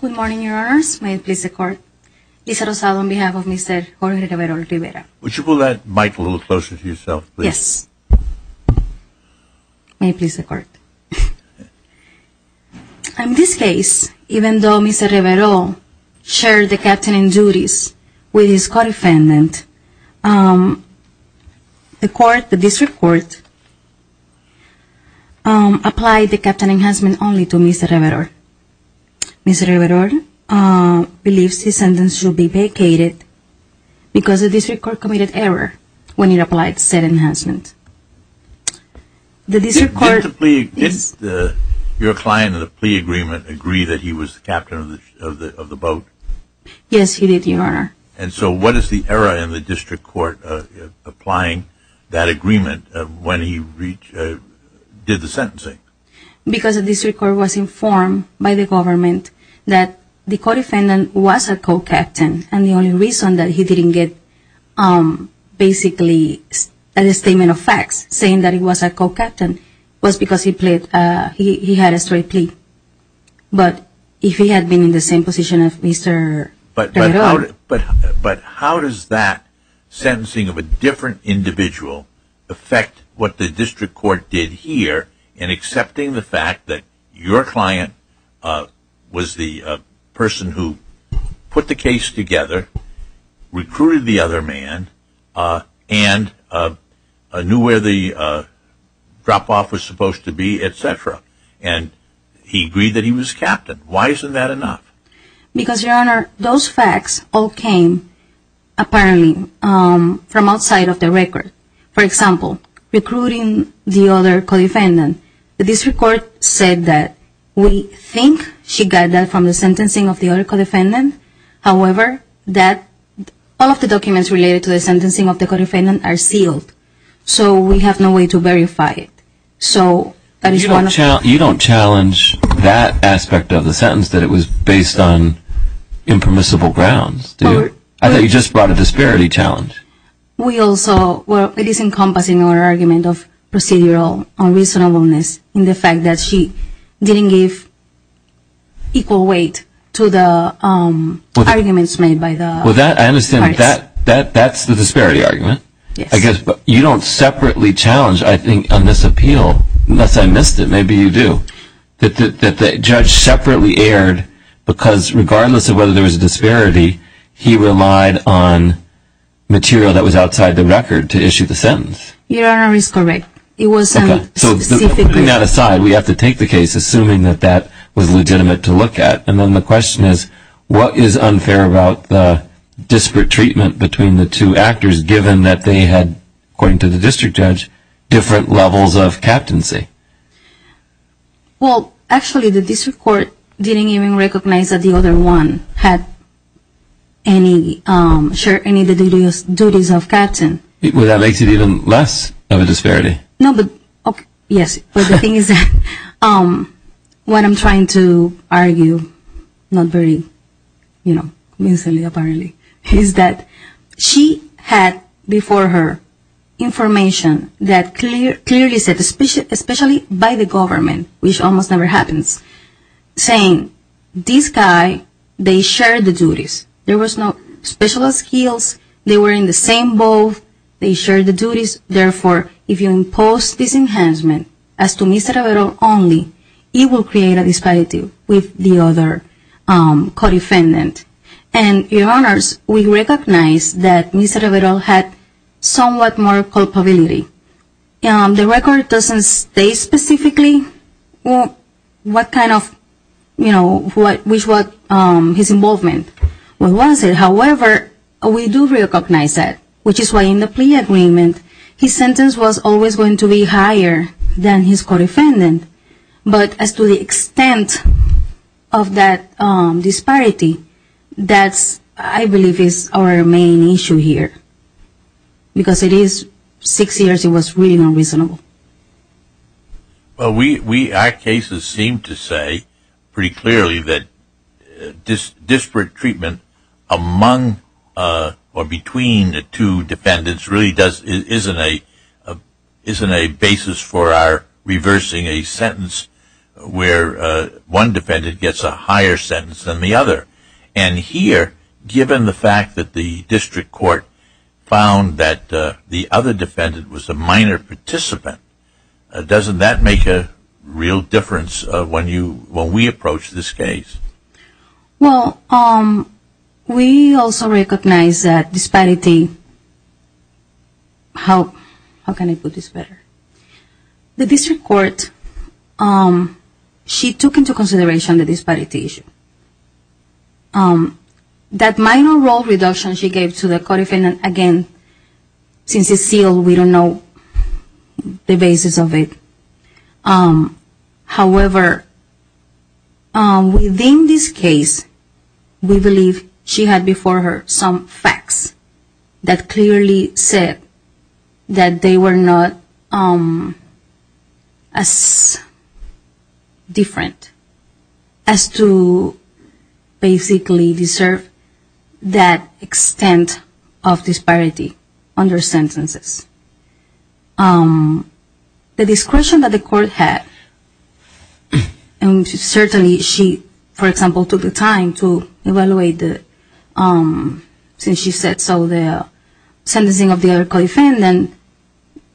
Good morning, your honors. May it please the court. Liza Rosado on behalf of Mr. Reverol-Rivera. Would you pull that mic a little closer to yourself, please? Yes. May it please the court. In this case, even though Mr. Reverol-Rivera shared the captain duties with his co-defendant, the court, the district court, applied the captain enhancement only to Mr. Reverol-Rivera. Mr. Reverol-Rivera believes his sentence should be vacated because the district court committed error when it applied said enhancement. Did your client in the plea agreement agree that he was the captain of the boat? Yes, he did, your honor. And so what is the error in the district court applying that agreement when he did the sentencing? Because the district court was informed by the government that the co-defendant was a co-captain, and the only reason that he didn't get basically a statement of facts saying that he was a co-captain was because he had a straight plea. But if he had been in the same position as Mr. Reverol-Rivera... Excepting the fact that your client was the person who put the case together, recruited the other man, and knew where the drop-off was supposed to be, etc. And he agreed that he was captain. Why isn't that enough? Because, your honor, those facts all came, apparently, from outside of the record. For example, recruiting the other co-defendant. The district court said that we think she got that from the sentencing of the other co-defendant. However, all of the documents related to the sentencing of the co-defendant are sealed. So we have no way to verify it. You don't challenge that aspect of the sentence that it was based on impermissible grounds, do you? I thought you just brought a disparity challenge. Well, it is encompassing your argument of procedural unreasonableness in the fact that she didn't give equal weight to the arguments made by the parties. Well, I understand that that's the disparity argument. I guess you don't separately challenge, I think, on this appeal, unless I missed it, maybe you do, that the judge separately erred because, regardless of whether there was a disparity, he relied on material that was outside the record to issue the sentence. Your honor is correct. Putting that aside, we have to take the case, assuming that that was legitimate to look at. And then the question is, what is unfair about the disparate treatment between the two actors, given that they had, according to the district judge, different levels of captaincy? Well, actually, the district court didn't even recognize that the other one had any of the duties of captain. Well, that makes it even less of a disparity. No, but, yes, but the thing is that what I'm trying to argue, not very, you know, instantly apparently, is that she had before her information that clearly said, especially by the government, which almost never happens, saying this guy, they shared the duties. There was no special skills. They were in the same boat. They shared the duties. Therefore, if you impose disenhancement as to Mr. Rivero only, it will create a disparity with the other co-defendant. And, your honors, we recognize that Mr. Rivero had somewhat more culpability. The record doesn't state specifically what kind of, you know, his involvement was. We recognize it. However, we do recognize that, which is why in the plea agreement, his sentence was always going to be higher than his co-defendant. But as to the extent of that disparity, that's, I believe, is our main issue here, because it is six years it was really unreasonable. Well, our cases seem to say pretty clearly that disparate treatment among or between the two defendants really isn't a basis for our reversing a sentence where one defendant gets a higher sentence than the other. And here, given the fact that the district court found that the other defendant was a minor participant, doesn't that make a real difference when we approach this case? Well, we also recognize that disparity, how can I put this better? The district court, she took into consideration the disparity issue. That minor role reduction she gave to the co-defendant, again, since it's sealed, we don't know the basis of it. However, within this case, we believe she had before her some facts that clearly said that they were not as different as to basically deserve that extent of disparity under sentences. The discretion that the court had, and certainly she, for example, took the time to evaluate, since she said so, the sentencing of the other co-defendant,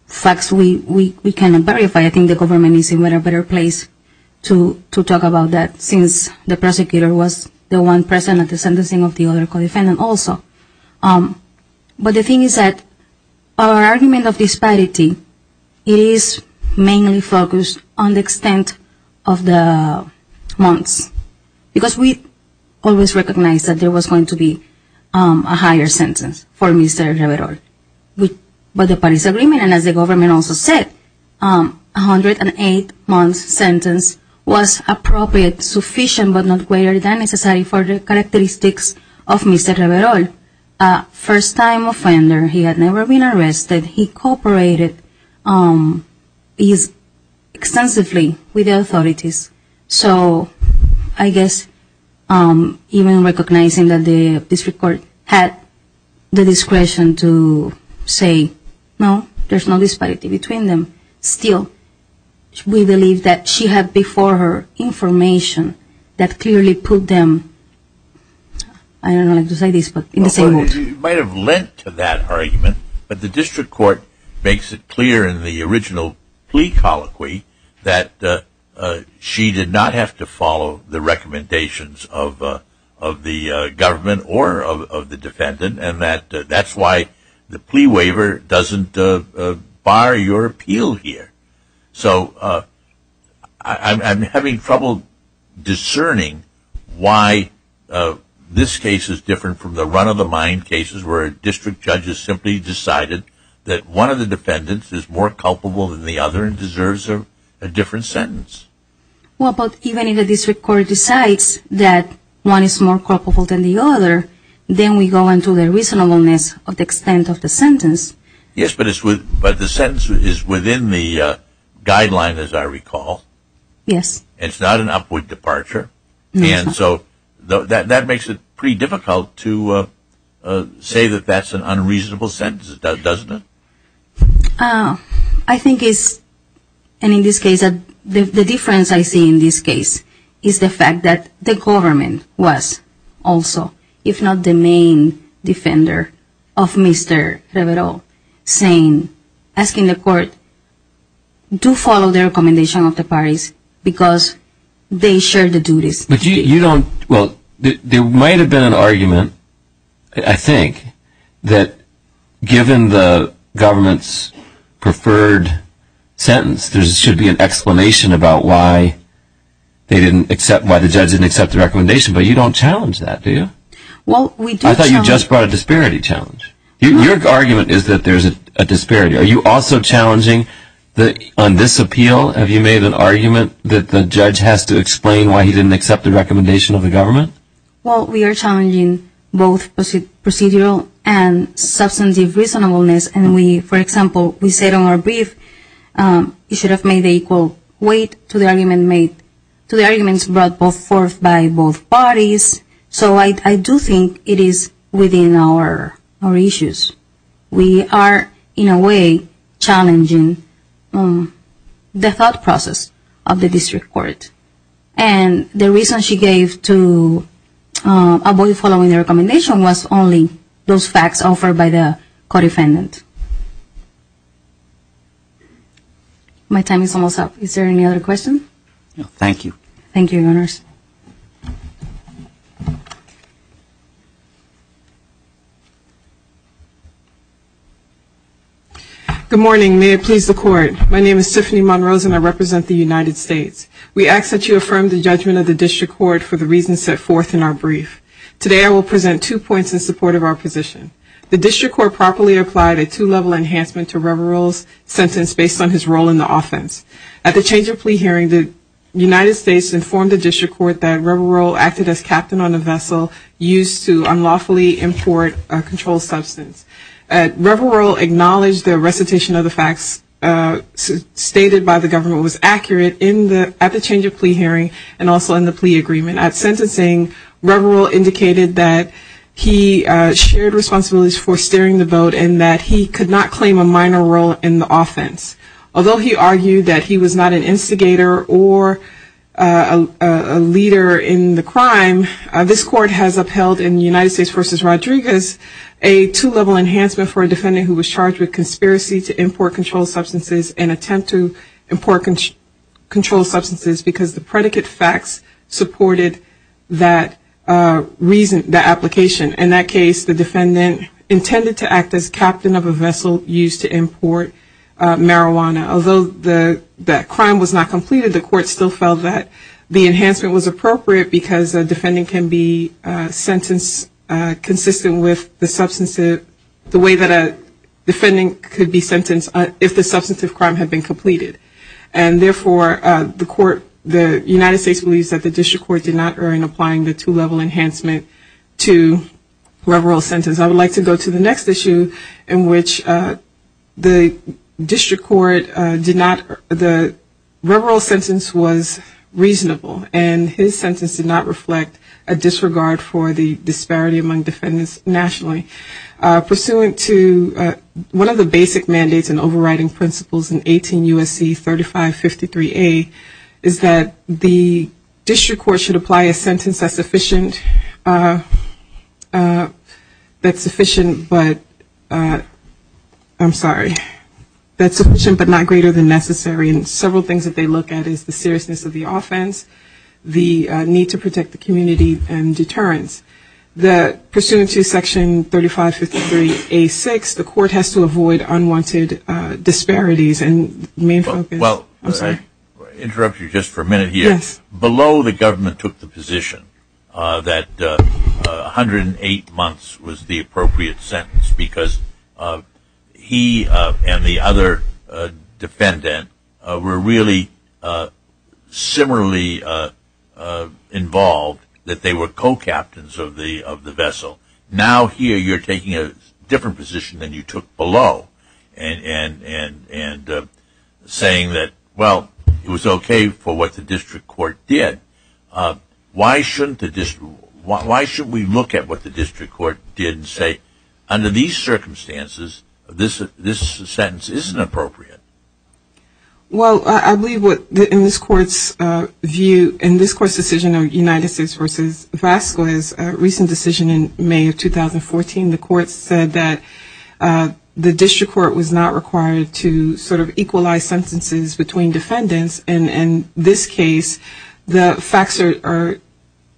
facts we cannot verify. I think the government is in a better place to talk about that, since the prosecutor was the one present at the sentencing of the other co-defendant also. But the thing is that our argument of disparity is mainly focused on the extent of the months, because we always recognized that there was going to be a higher sentence for Mr. Rivero. But the Paris Agreement, and as the government also said, a 108-month sentence was appropriate, sufficient, but not greater than necessary for the characteristics of Mr. Rivero, a first-time offender. He had never been arrested. He cooperated extensively with the authorities. So I guess even recognizing that the district court had the discretion to say, no, there's no disparity between them, still we believe that she had before her information that clearly put them, I don't know how to say this, but in the same mood. You might have lent to that argument, but the district court makes it clear in the original plea colloquy that she did not have to follow the recommendations of the government or of the defendant, and that that's why the plea waiver doesn't bar your appeal here. So I'm having trouble discerning why this case is different from the run-of-the-mind cases where a district judge has simply decided that one of the defendants is more culpable than the other and deserves a different sentence. Well, but even if the district court decides that one is more culpable than the other, then we go into the reasonableness of the extent of the sentence. Yes, but the sentence is within the guideline, as I recall. Yes. It's not an upward departure. And so that makes it pretty difficult to say that that's an unreasonable sentence, doesn't it? I think it's, and in this case, the difference I see in this case is the fact that the government was also, if not the main defender of Mr. Rivero, saying, asking the court, do follow the recommendation of the parties because they share the duties. But you don't, well, there might have been an argument, I think, that given the government's preferred sentence, there should be an explanation about why they didn't accept, why the judge didn't accept the recommendation, but you don't challenge that, do you? Well, we do challenge. I thought you just brought a disparity challenge. Your argument is that there's a disparity. Are you also challenging that on this appeal, have you made an argument that the judge has to explain why he didn't accept the recommendation of the government? Well, we are challenging both procedural and substantive reasonableness, and we, for example, we said on our brief, you should have made the equal weight to the arguments brought forth by both parties. So I do think it is within our issues. We are, in a way, challenging the thought process of the district court. And the reason she gave to avoid following the recommendation was only those facts offered by the court defendant. My time is almost up. Is there any other questions? Thank you. Thank you, Your Honors. Good morning. May it please the Court. My name is Tiffany Monrose, and I represent the United States. We ask that you affirm the judgment of the district court for the reasons set forth in our brief. Today I will present two points in support of our position. The district court properly applied a two-level enhancement to Reverell's sentence based on his role in the offense. At the change of plea hearing, the United States informed the district court that Reverell acted as captain on a vessel used to unlawfully import a controlled substance. Reverell acknowledged the recitation of the facts stated by the government was accurate at the change of plea hearing and also in the plea agreement. At sentencing, Reverell indicated that he shared responsibilities for steering the boat and that he could not claim a minor role in the offense. Although he argued that he was not an instigator or a leader in the crime, this court has upheld in the United States v. Rodriguez a two-level enhancement for a defendant who was charged with conspiracy to import controlled substances and attempt to import controlled substances because the predicate facts supported that reason, that application. In that case, the defendant intended to act as captain of a vessel used to import marijuana. Although that crime was not completed, the court still felt that the enhancement was appropriate because a defendant can be sentenced consistent with the way that a defendant could be sentenced if the substantive crime had been completed. And therefore, the United States believes that the district court did not earn applying the two-level enhancement to Reverell's sentence. I would like to go to the next issue in which the district court did not, the Reverell's sentence was reasonable and his sentence did not reflect a disregard for the disparity among defendants nationally. Pursuant to one of the basic mandates and overriding principles in 18 U.S.C. 3553A is that the district court should apply a sentence that's sufficient but not greater than necessary. And several things that they look at is the seriousness of the offense, the need to protect the community and deterrence. That pursuant to section 3553A6, the court has to avoid unwanted disparities and main focus. Well, I'll interrupt you just for a minute here. Below the government took the position that 108 months was the appropriate sentence because he and the other defendant were really similarly involved that they were co-captains of the vessel. Now here you're taking a different position than you took below and saying that, well, it was okay for what the district court did. Why should we look at what the district court did and say, under these circumstances, this sentence isn't appropriate? Well, I believe in this court's view, in this court's decision of United States v. Vasquez, a recent decision in May of 2014, the court said that the district court was not required to sort of equalize sentences between defendants. And in this case, the facts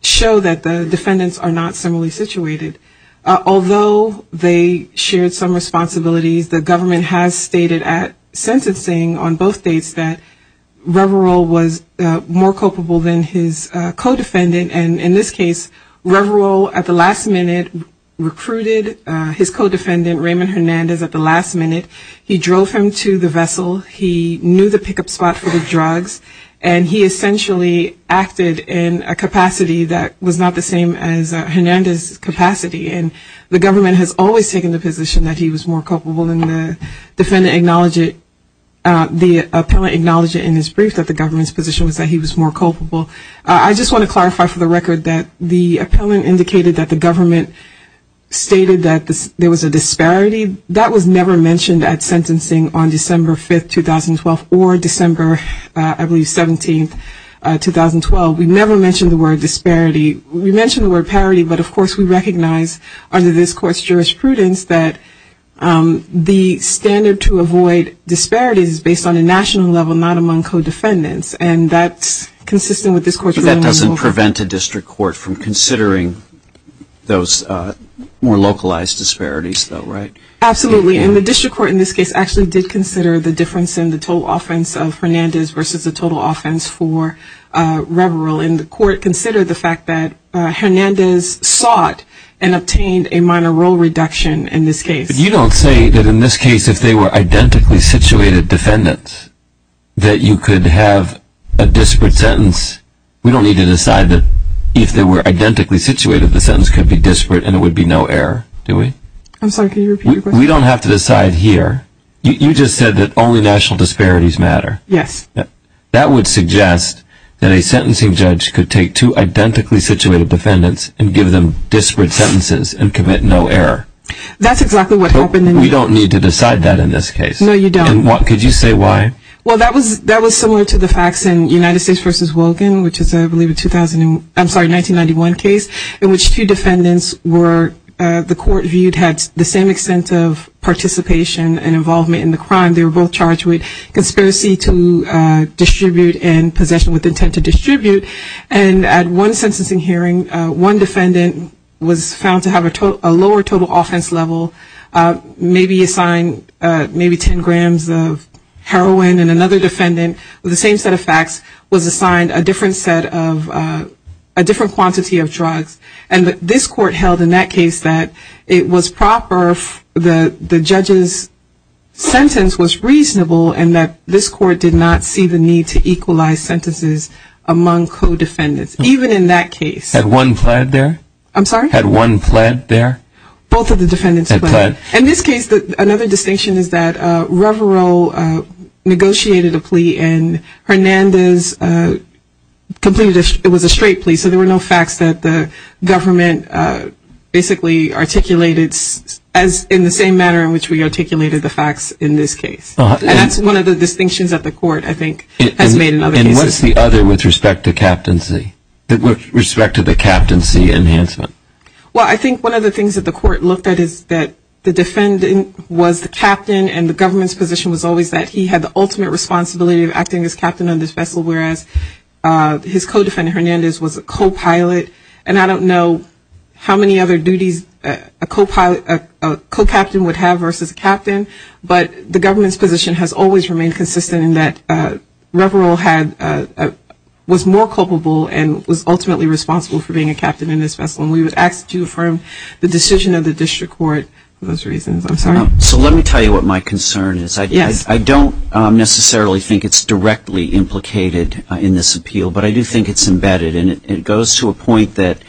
show that the defendants are not similarly situated. Although they shared some responsibilities, the government has stated at sentencing on both dates that Reverol was more culpable than his co-defendant. And in this case, Reverol at the last minute recruited his co-defendant Raymond Hernandez at the last minute. He drove him to the vessel, he knew the pickup spot for the drugs, and he essentially acted in a capacity that was not the same as Hernandez's capacity. And the government has always taken the position that he was more culpable and the defendant acknowledged it, the appellant acknowledged it in his brief that the government's position was that he was more culpable. I just want to clarify for the record that the appellant indicated that the government stated that there was a disparity. That was never mentioned at sentencing on December 5, 2012, or December, I believe, 17, 2012. We never mentioned the word disparity. We mentioned the word parity, but of course we recognize under this court's jurisprudence that the standard to avoid disparities is based on a national level, not among co-defendants, and that's consistent with this court's ruling. But that doesn't prevent a district court from considering those more localized disparities, though, right? Absolutely. And the district court in this case actually did consider the difference in the total offense of Hernandez versus the total offense for Reverell. And the court considered the fact that Hernandez sought and obtained a minor role reduction in this case. But you don't say that in this case if they were identically situated defendants that you could have a disparate sentence. We don't need to decide that if they were identically situated the sentence could be disparate and there would be no error, do we? I'm sorry, can you repeat the question? We don't have to decide here. You just said that only national disparities matter. Yes. That would suggest that a sentencing judge could take two identically situated defendants and give them disparate sentences and commit no error. That's exactly what happened in this case. We don't need to decide that in this case. No, you don't. And could you say why? Well, that was similar to the facts in United States versus Wogan, which is, I believe, a 1991 case, in which two defendants were, the court viewed, had the same extent of participation and involvement in the crime. They were both charged with conspiracy to distribute and possession with intent to distribute. And at one sentencing hearing, one defendant was found to have a lower total offense level, maybe assigned maybe 10 grams of heroin. And another defendant with the same set of facts was assigned a different set of, a different quantity of drugs. And this court held in that case that it was proper, the judge's sentence was reasonable and that this court did not see the need to equalize sentences among co-defendants, even in that case. Had one plead there? I'm sorry? Had one plead there? Both of the defendants pleaded. And this case, another distinction is that Revero negotiated a plea and Hernandez completed, it was a straight plea, so there were no facts that the government basically articulated in the same manner in which we articulated the facts in this case. And that's one of the distinctions that the court, I think, has made in other cases. And what's the other with respect to captaincy, with respect to the captaincy enhancement? Well, I think one of the things that the court looked at is that the defendant was the captain and the government's position was always that he had the ultimate responsibility of acting as captain on this vessel, whereas his co-defendant Hernandez was a co-pilot. And I don't know how many other duties a co-pilot, a co-captain would have versus a captain, but the government's position has always remained consistent in that Revero had, was more culpable and was ultimately responsible for being a captain in this vessel. And we would ask to affirm the decision of the district court for those reasons. I'm sorry? So let me tell you what my concern is. I don't necessarily think it's directly implicated in this appeal, but I do think it's embedded. And it goes to a point that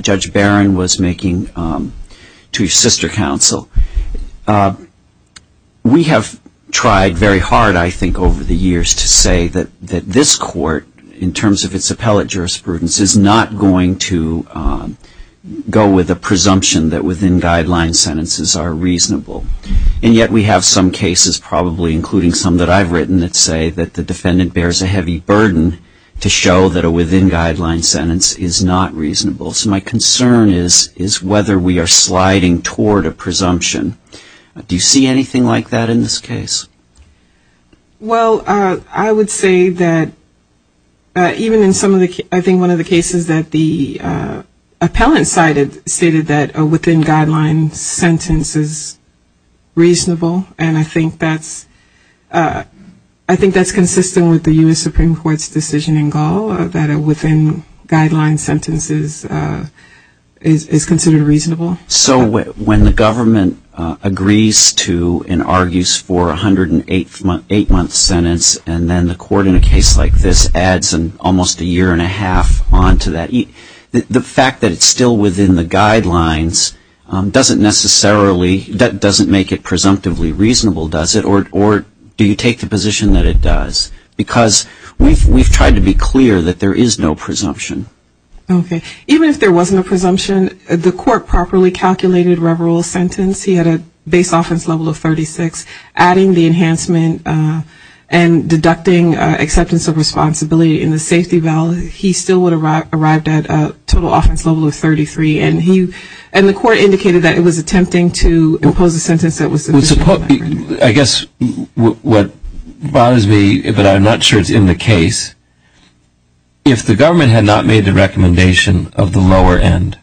Judge Barron was making to his sister counsel. We have tried very hard, I think, over the years to say that this court, in terms of its appellate jurisprudence, is not going to go with a presumption that within-guideline sentences are reasonable. And yet we have some cases, probably including some that I've written that say that the defendant bears a heavy burden to show that a within-guideline sentence is not reasonable. So my concern is whether we are sliding toward a presumption. Do you see anything like that in this case? Well, I would say that even in some of the, I think one of the cases that the appellant cited stated that a within-guideline sentence is reasonable. And I think that's consistent with the U.S. Supreme Court's decision in Gaul that a within-guideline sentence is considered reasonable. So when the government agrees to and argues for a 108-month sentence and then the court in a case like this adds almost a year and a half on to that, the fact that it's still within the guidelines doesn't necessarily, doesn't make it presumptively reasonable, does it? Or do you take the position that it does? Because we've tried to be clear that there is no presumption. Okay. Even if there wasn't a presumption, the court properly calculated Reverell's sentence. He had a base offense level of 36. Adding the enhancement and deducting acceptance of responsibility in the safety balance, he still would have arrived at a total offense level of 33. And the court indicated that it was attempting to impose a sentence that was sufficient. I guess what bothers me, but I'm not sure it's in the case, is if the government had not made the recommendation of the lower end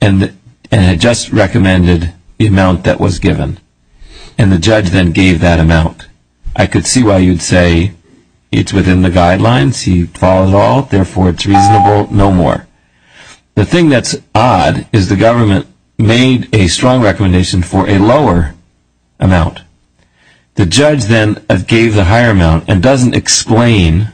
and had just recommended the amount that was given and the judge then gave that amount, I could see why you'd say, it's within the guidelines, he follows all, therefore it's reasonable, no more. The thing that's odd is the government made a strong recommendation for a lower amount. The judge then gave the higher amount and doesn't explain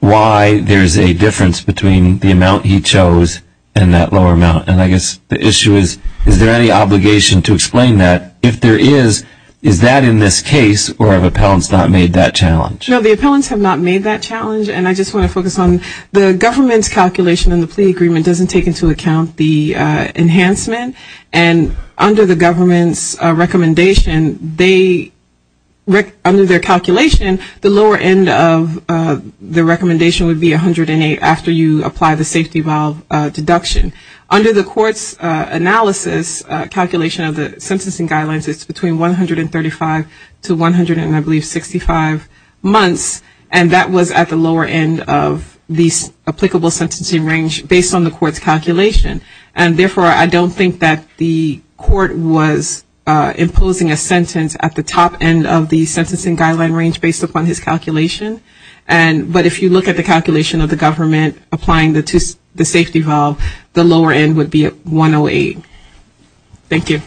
why there's a difference between the amount he chose and that lower amount. And I guess the issue is, is there any obligation to explain that? If there is, is that in this case, or have appellants not made that challenge? No, the appellants have not made that challenge. And I just want to focus on the government's calculation in the plea agreement doesn't take into account the enhancement. And under the government's recommendation, they, under their calculation, the lower end of the recommendation would be 108 after you apply the safety valve deduction. Under the court's analysis, calculation of the sentencing guidelines, it's between 135 to I believe 165 months, and that was at the lower end of the applicable sentencing range based on the court's calculation. And therefore, I don't think that the court was imposing a sentence at the top end of the sentencing guideline range based upon his calculation. But if you look at the calculation of the government applying the safety valve, the lower end would be 108. Thank you.